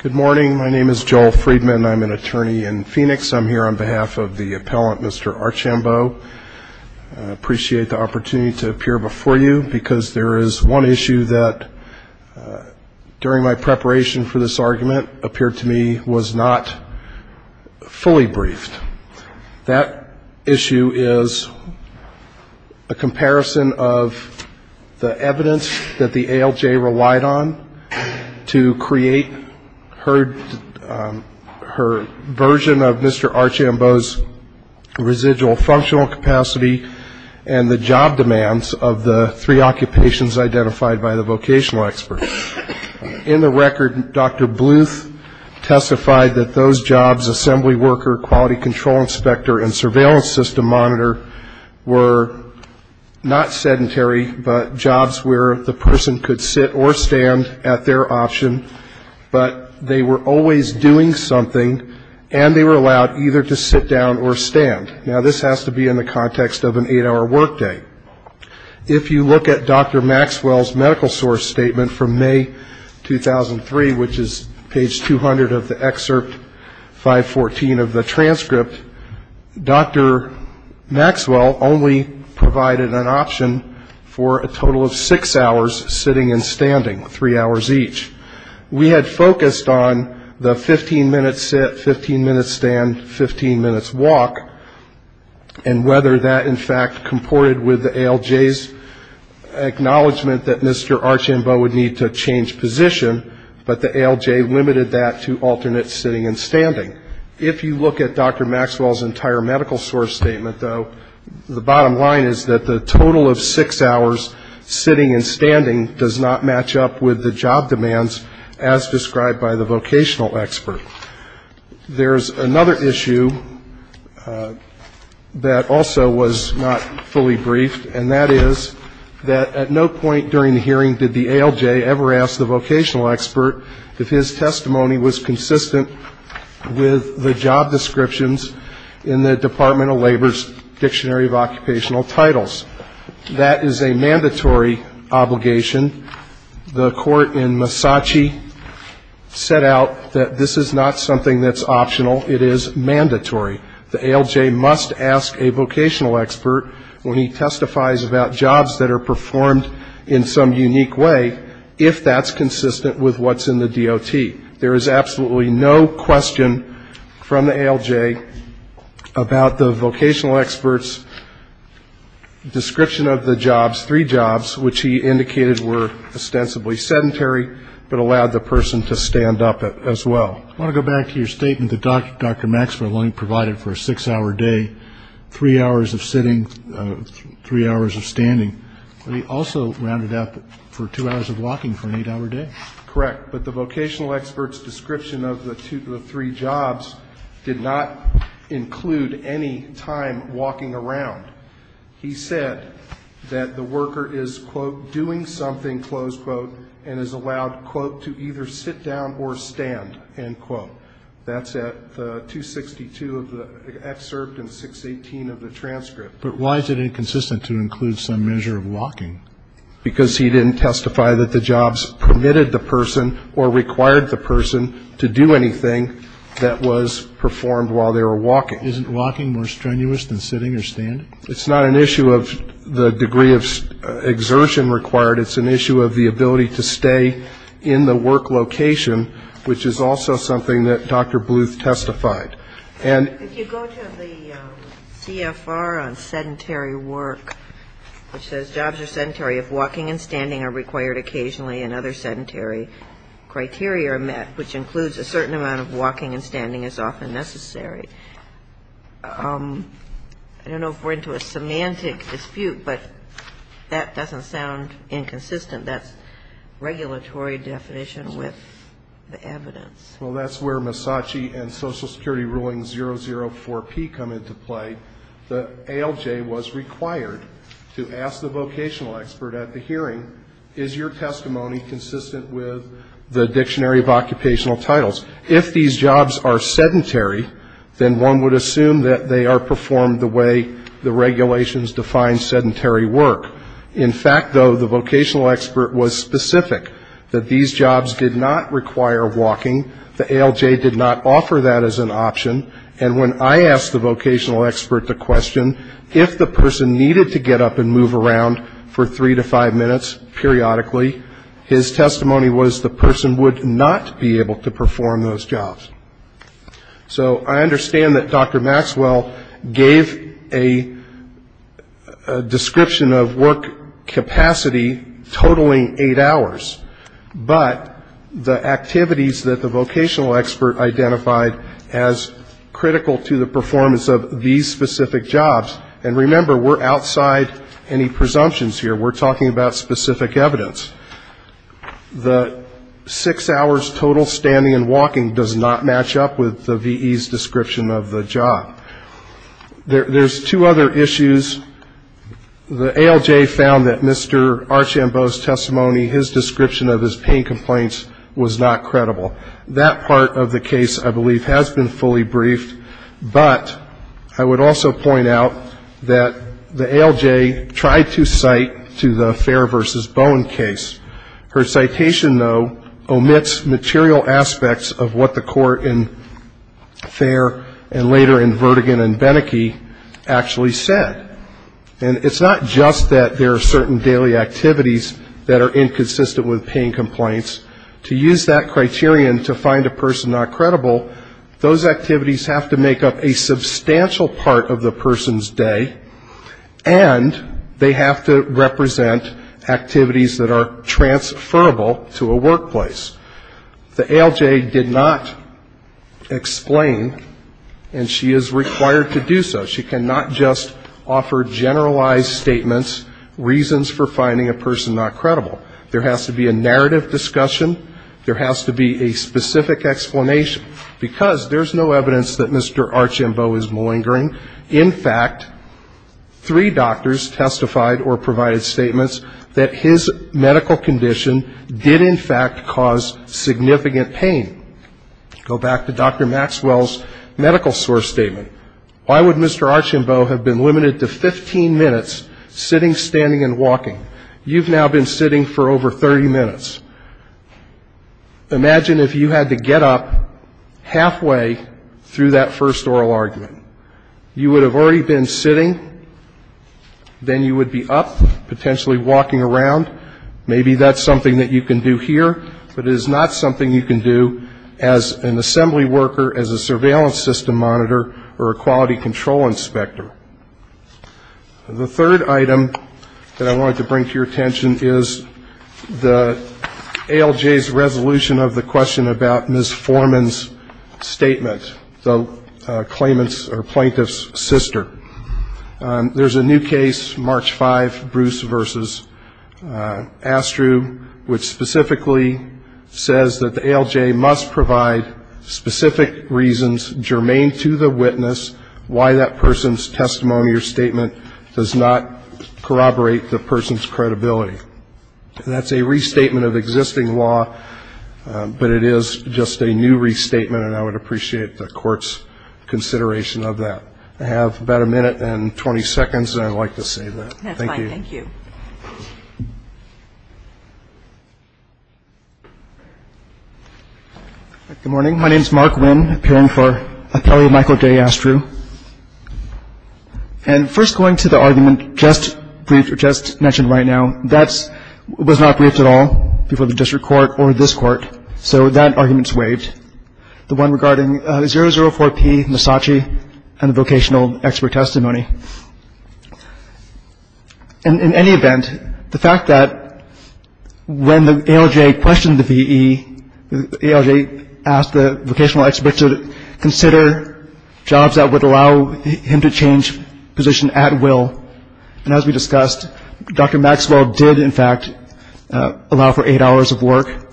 Good morning. My name is Joel Freedman. I'm an attorney in Phoenix. I'm here on behalf of the appellant. Mr. Archambeault Appreciate the opportunity to appear before you because there is one issue that During my preparation for this argument appeared to me was not fully briefed that issue is a Comparison of the evidence that the ALJ relied on To create heard her version of mr. Archambeau's residual functional capacity and the job demands of the three occupations identified by the vocational experts In the record, dr. Bluth Testified that those jobs assembly worker quality control inspector and surveillance system monitor were Not sedentary but jobs where the person could sit or stand at their option But they were always doing something and they were allowed either to sit down or stand now This has to be in the context of an eight-hour workday If you look at dr. Maxwell's medical source statement from May 2003 which is page 200 of the excerpt 514 of the transcript dr. Maxwell only provided an option for a total of six hours sitting and standing three hours each we had focused on the 15 minutes at 15 minutes stand 15 minutes walk and Whether that in fact comported with the ALJ's Acknowledgement that mr. Archambeau would need to change position But the ALJ limited that to alternate sitting and standing if you look at dr. Maxwell's entire medical source statement though the bottom line is that the total of six hours Sitting and standing does not match up with the job demands as described by the vocational expert There's another issue That also was not fully briefed and that is That at no point during the hearing did the ALJ ever asked the vocational expert if his testimony was consistent With the job descriptions in the Department of Labor's Dictionary of Occupational Titles That is a mandatory obligation the court in Massachi Set out that this is not something that's optional It is mandatory the ALJ must ask a vocational expert when he testifies about jobs that are performed in Some unique way if that's consistent with what's in the DOT. There is absolutely no question from the ALJ about the vocational experts Description of the jobs three jobs, which he indicated were ostensibly sedentary But allowed the person to stand up it as well. I want to go back to your statement the doctor dr Maxwell only provided for a six-hour day three hours of sitting Three hours of standing, but he also rounded up for two hours of walking for an eight-hour day, correct? But the vocational experts description of the two to the three jobs did not Include any time walking around He said that the worker is quote doing something close quote and is allowed quote to either sit down or stand and quote that's at 262 of the excerpt and 618 of the transcript, but why is it inconsistent to include some measure of walking? Because he didn't testify that the jobs permitted the person or required the person to do anything That was performed while they were walking isn't walking more strenuous than sitting or standing. It's not an issue of the degree of Exertion required. It's an issue of the ability to stay in the work location, which is also something that dr Bluth testified and CFR on sedentary work Which says jobs are sedentary if walking and standing are required occasionally and other sedentary Criteria are met which includes a certain amount of walking and standing is often necessary um, I don't know if we're into a semantic dispute, but that doesn't sound inconsistent that's Regulatory definition with the evidence. Well, that's where Misaki and Social Security ruling 004p come into play the ALJ was required to ask the vocational expert at the hearing is your testimony Consistent with the dictionary of occupational titles if these jobs are sedentary Then one would assume that they are performed the way the regulations define sedentary work In fact, though the vocational expert was specific that these jobs did not require walking The ALJ did not offer that as an option And when I asked the vocational expert the question if the person needed to get up and move around for three to five minutes Periodically his testimony was the person would not be able to perform those jobs so I understand that dr. Maxwell gave a a description of work capacity totaling eight hours but the activities that the vocational expert identified as Critical to the performance of these specific jobs and remember we're outside any presumptions here. We're talking about specific evidence the Six hours total standing and walking does not match up with the VE's description of the job There's two other issues The ALJ found that mr. Archambault's testimony his description of his pain complaints was not credible that part of the case I believe has been fully briefed But I would also point out that the ALJ tried to cite to the fair versus bone case Her citation though omits material aspects of what the court in Fair and later in Verdigan and Benneke actually said and it's not just that there are certain daily activities that are inconsistent with pain complaints to Use that criterion to find a person not credible those activities have to make up a substantial part of the person's day and They have to represent activities that are transferable to a workplace the ALJ did not Explain and she is required to do so. She cannot just offer generalized statements Reasons for finding a person not credible there has to be a narrative discussion There has to be a specific explanation because there's no evidence that mr. Archambault is malingering in fact Three doctors testified or provided statements that his medical condition did in fact cause significant pain Go back to dr. Maxwell's medical source statement. Why would mr. Archambault have been limited to 15 minutes? Sitting standing and walking you've now been sitting for over 30 minutes Imagine if you had to get up halfway through that first oral argument you would have already been sitting Then you would be up potentially walking around Maybe that's something that you can do here But it is not something you can do as an assembly worker as a surveillance system monitor or a quality control inspector the third item that I wanted to bring to your attention is the ALJ's resolution of the question about miss Foreman's statement though claimants or plaintiffs sister There's a new case March 5 Bruce versus Astru which specifically Says that the ALJ must provide specific reasons germane to the witness why that person's testimony or statement does not Corroborate the person's credibility That's a restatement of existing law But it is just a new restatement, and I would appreciate the court's Consideration of that I have about a minute and 20 seconds, and I'd like to say that thank you Thank you Good morning, my name is Mark Wynn appearing for a fellow Michael day Astru And first going to the argument just briefed or just mentioned right now That's was not briefed at all before the district court or this court so that arguments waived the one regarding 004 P. Misaki and the vocational expert testimony and In any event the fact that when the ALJ questioned the VE ALJ asked the vocational expert to consider Jobs that would allow him to change position at will and as we discussed dr. Maxwell did in fact allow for eight hours of work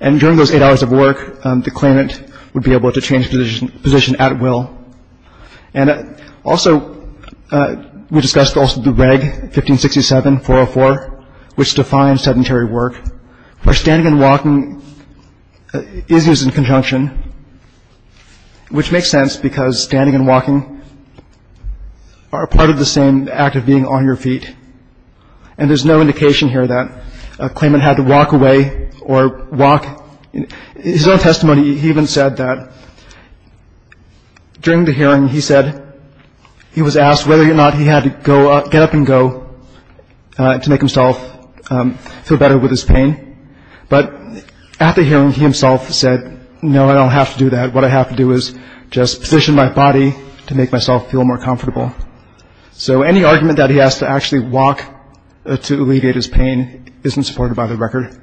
and During those eight hours of work the claimant would be able to change position position at will and also We discussed also the reg 1567 404 which defines sedentary work by standing and walking Issues in conjunction Which makes sense because standing and walking Are part of the same act of being on your feet and There's no indication here that a claimant had to walk away or walk His own testimony. He even said that During the hearing he said He was asked whether or not he had to go up get up and go to make himself Feel better with his pain, but at the hearing he himself said no, I don't have to do that What I have to do is just position my body to make myself feel more comfortable So any argument that he has to actually walk to alleviate his pain isn't supported by the record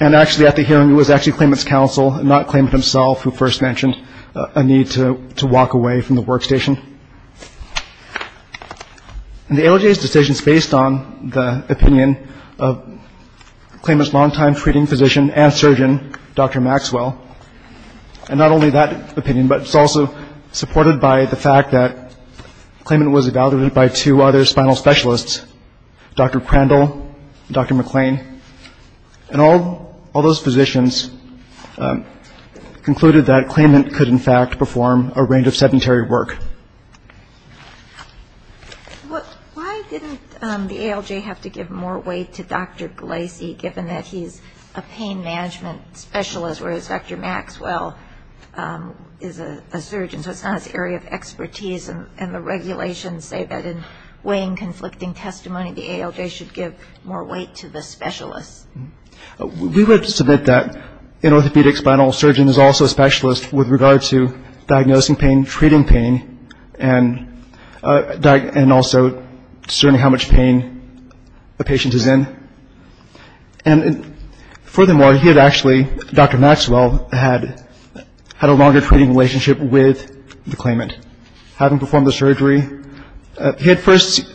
And Actually at the hearing it was actually claimant's counsel and not claimant himself who first mentioned a need to walk away from the workstation And the ALJ's decision is based on the opinion of Claimant's longtime treating physician and surgeon. Dr. Maxwell and not only that opinion, but it's also supported by the fact that Claimant was evaluated by two other spinal specialists. Dr. Crandall, Dr. McClain and all those physicians Concluded that claimant could in fact perform a range of sedentary work Why didn't the ALJ have to give more weight to Dr. Glacey given that he's a pain management Specialist whereas Dr. Maxwell Is a surgeon so it's not an area of expertise and the regulations say that in weighing conflicting testimony The ALJ should give more weight to the specialist we would submit that in orthopedic spinal surgeon is also a specialist with regard to diagnosing pain treating pain and Diagnosed and also certainly how much pain a patient is in and Furthermore he had actually Dr. Maxwell had Had a longer treating relationship with the claimant having performed the surgery He had first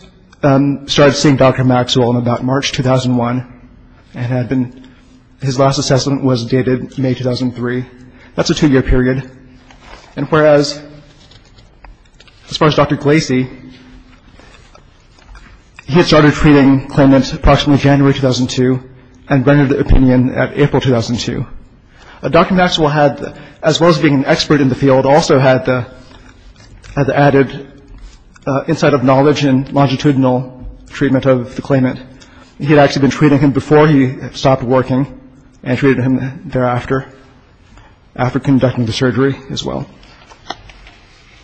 Started seeing Dr. Maxwell in about March 2001 and had been his last assessment was dated May 2003 that's a two-year period and whereas As far as Dr. Glacey He had started treating claimants approximately January 2002 and rendered the opinion at April 2002 Dr. Maxwell had as well as being an expert in the field also had had added inside of knowledge and longitudinal Treatment of the claimant. He had actually been treating him before he stopped working and treated him thereafter after conducting the surgery as well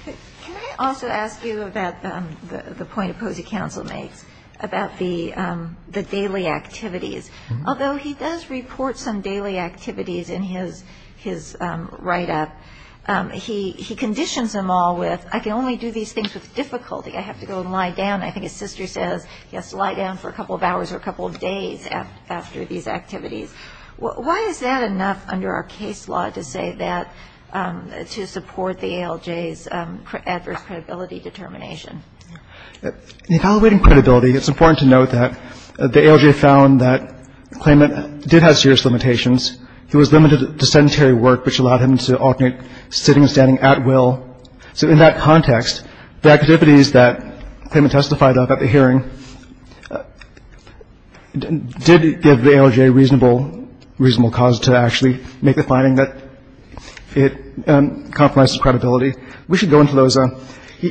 Can I also ask you about the point of Posey counsel makes about the Daily activities, although he does report some daily activities in his his write-up He he conditions them all with I can only do these things with difficulty. I have to go and lie down I think his sister says yes lie down for a couple of hours or a couple of days after these activities Why is that enough under our case law to say that? To support the ALJ's adverse credibility determination Evaluating credibility. It's important to note that the ALJ found that Claimant did have serious limitations. He was limited to sedentary work which allowed him to alternate sitting and standing at will So in that context the activities that payment testified about the hearing Did give the ALJ reasonable reasonable cause to actually make the finding that It Compromises credibility. We should go into those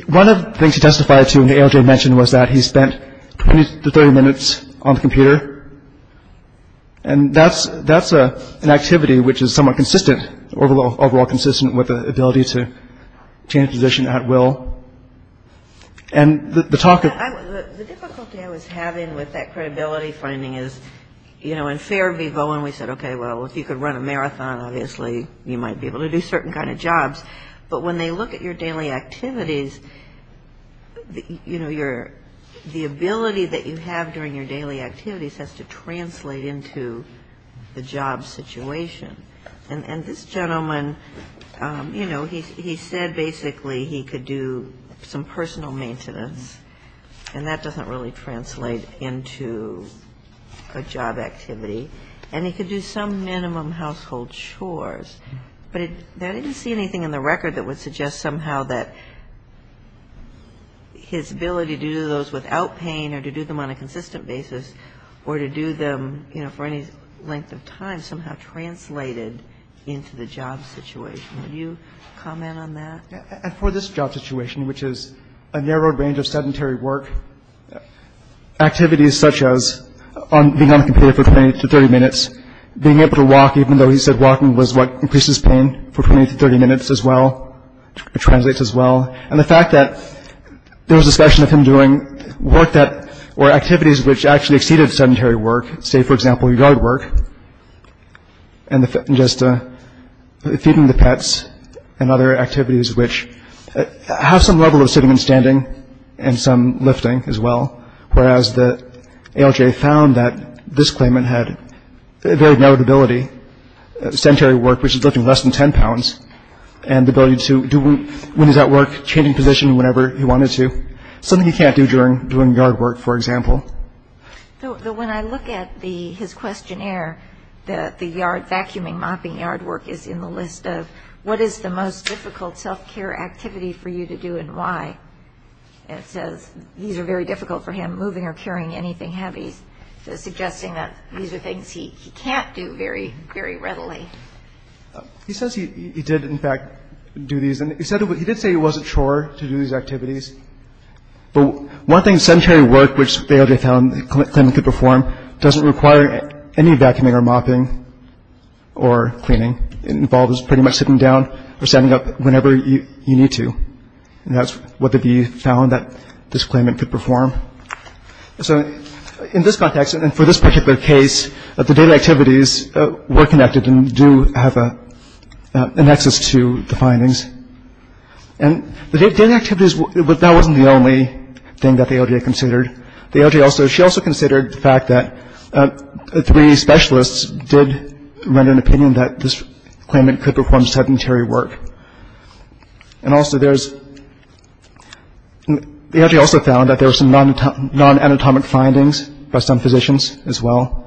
one of the things he testified to in the ALJ mentioned was that he spent 20 to 30 minutes on the computer and That's that's a an activity which is somewhat consistent overall overall consistent with the ability to change position at will and the talk I was having with that credibility finding is you know in fair viva when we said, okay Well, if you could run a marathon, obviously you might be able to do certain kind of jobs, but when they look at your daily activities You know your the ability that you have during your daily activities has to translate into the job situation and and this gentleman You know, he said basically he could do some personal maintenance and that doesn't really translate into a job activity and he could do some minimum household chores, but it there didn't see anything in the record that would suggest somehow that His ability to do those without pain or to do them on a consistent basis or to do them, you know for any length of time Somehow translated into the job situation. Would you comment on that for this job situation? Which is a narrowed range of sedentary work Activities such as on being on the computer for 20 to 30 minutes Being able to walk even though he said walking was what increases pain for 20 to 30 minutes as well Translates as well and the fact that there was a session of him doing work that or activities which actually exceeded sedentary work say for example your guard work and the just Feeding the pets and other activities which have some level of sitting and standing and some lifting as well, whereas the ALJ found that this claimant had a very narrowed ability sedentary work which is lifting less than 10 pounds and The ability to do when he's at work changing position whenever he wanted to something he can't do during doing yard work. For example When I look at the his questionnaire The the yard vacuuming mopping yard work is in the list of what is the most difficult self-care activity for you to do and why? It says these are very difficult for him moving or carrying anything heavy Suggesting that these are things he can't do very very readily He says he did in fact do these and he said what he did say he wasn't sure to do these activities But one thing sedentary work which they already found the claimant could perform doesn't require any vacuuming or mopping or Cleaning it involves pretty much sitting down or standing up whenever you need to And that's what the be found that this claimant could perform so in this context and for this particular case of the data activities were connected and do have a an access to the findings and They did activities, but that wasn't the only thing that they already considered. They also she also considered the fact that three specialists did render an opinion that this claimant could perform sedentary work and also, there's They actually also found that there was some non non anatomic findings by some physicians as well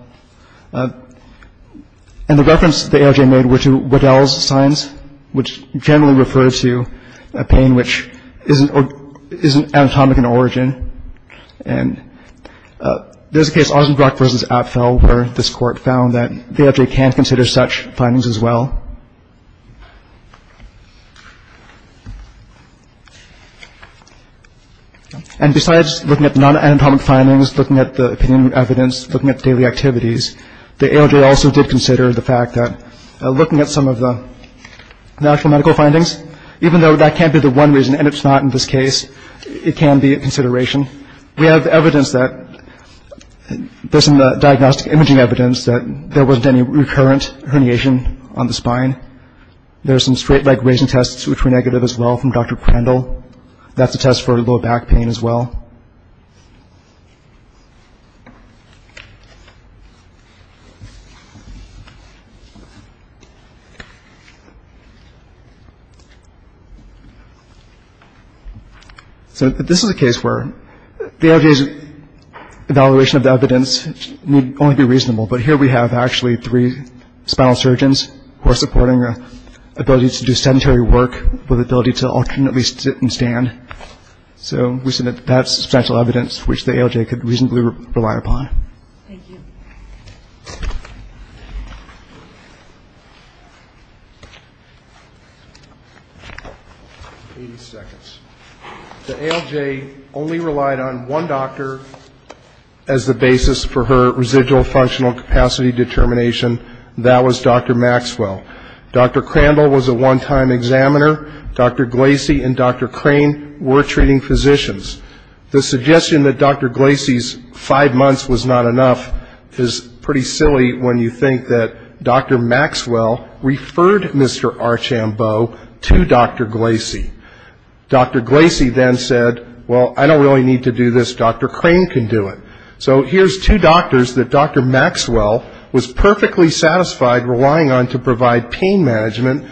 and The reference the AIJ made were to Waddell's signs which generally refer to a pain which isn't isn't anatomic in origin and There's a case of Rosenbrock vs. Apfel where this court found that they actually can't consider such findings as well And besides looking at non anatomic findings looking at the opinion evidence looking at daily activities The AIJ also did consider the fact that looking at some of the Natural medical findings even though that can't be the one reason and it's not in this case. It can be a consideration we have evidence that There's some diagnostic imaging evidence that there wasn't any recurrent herniation on the spine There's some straight leg raising tests, which were negative as well from dr. Prandtl. That's a test for low back pain as well So This is a case where the AIJ's Evaluation of the evidence need only be reasonable. But here we have actually three spinal surgeons who are supporting the Ability to do sedentary work with ability to alternately sit and stand So we said that that's substantial evidence, which the AIJ could reasonably rely upon 80 Seconds the AIJ only relied on one doctor as The basis for her residual functional capacity determination. That was dr. Maxwell. Dr Crandall was a one-time examiner. Dr. Glacey and dr. Crane were treating physicians the suggestion that dr Glacey's five months was not enough is pretty silly when you think that dr. Maxwell Referred mr. Archambeau to dr. Glacey Dr. Glacey then said well, I don't really need to do this. Dr. Crane can do it. So here's two doctors that dr Maxwell was perfectly satisfied relying on to provide pain management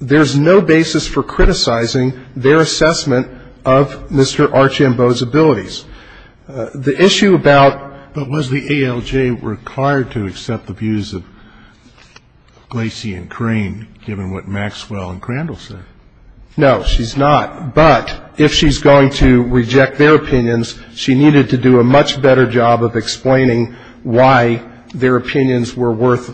There's no basis for criticizing their assessment of mr. Archambeau's abilities the issue about but was the ALJ were required to accept the views of Glacey and crane given what Maxwell and Crandall said No, she's not but if she's going to reject their opinions She needed to do a much better job of explaining why their opinions were worth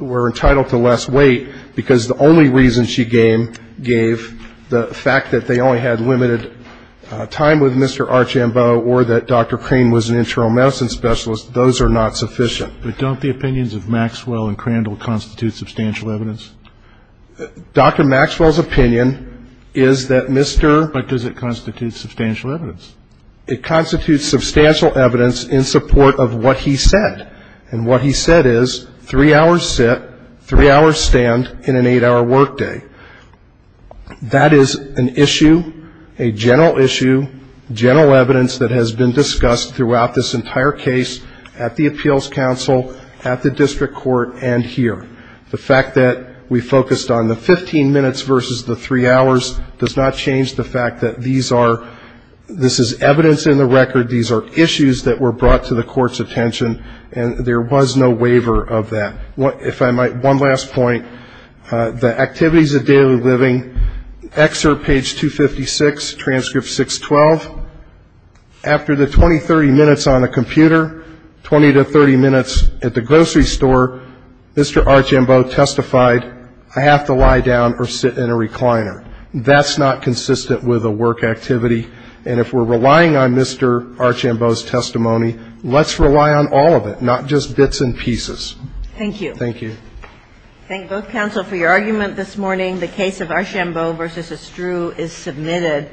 We're entitled to less weight because the only reason she game gave the fact that they only had limited Time with mr. Archambeau or that dr. Crane was an internal medicine specialist Those are not sufficient, but don't the opinions of Maxwell and Crandall constitute substantial evidence Dr. Maxwell's opinion is that mr. But does it constitute substantial evidence? It constitutes substantial evidence in support of what he said and what he said is three hours sit Three hours stand in an eight-hour workday That is an issue a general issue general evidence that has been discussed throughout this entire case at the appeals council at the District Court and here the fact that we focused on the 15 minutes versus the three hours does not change the fact that these are This is evidence in the record These are issues that were brought to the court's attention and there was no waiver of that what if I might one last point The activities of daily living excerpt page 256 transcript 612 After the 20 30 minutes on a computer 20 to 30 minutes at the grocery store Mr. Archambeau testified I have to lie down or sit in a recliner That's not consistent with a work activity and if we're relying on mr. Archambeau's testimony Let's rely on all of it. Not just bits and pieces. Thank you. Thank you Council for your argument this morning the case of Archambeau versus a strew is submitted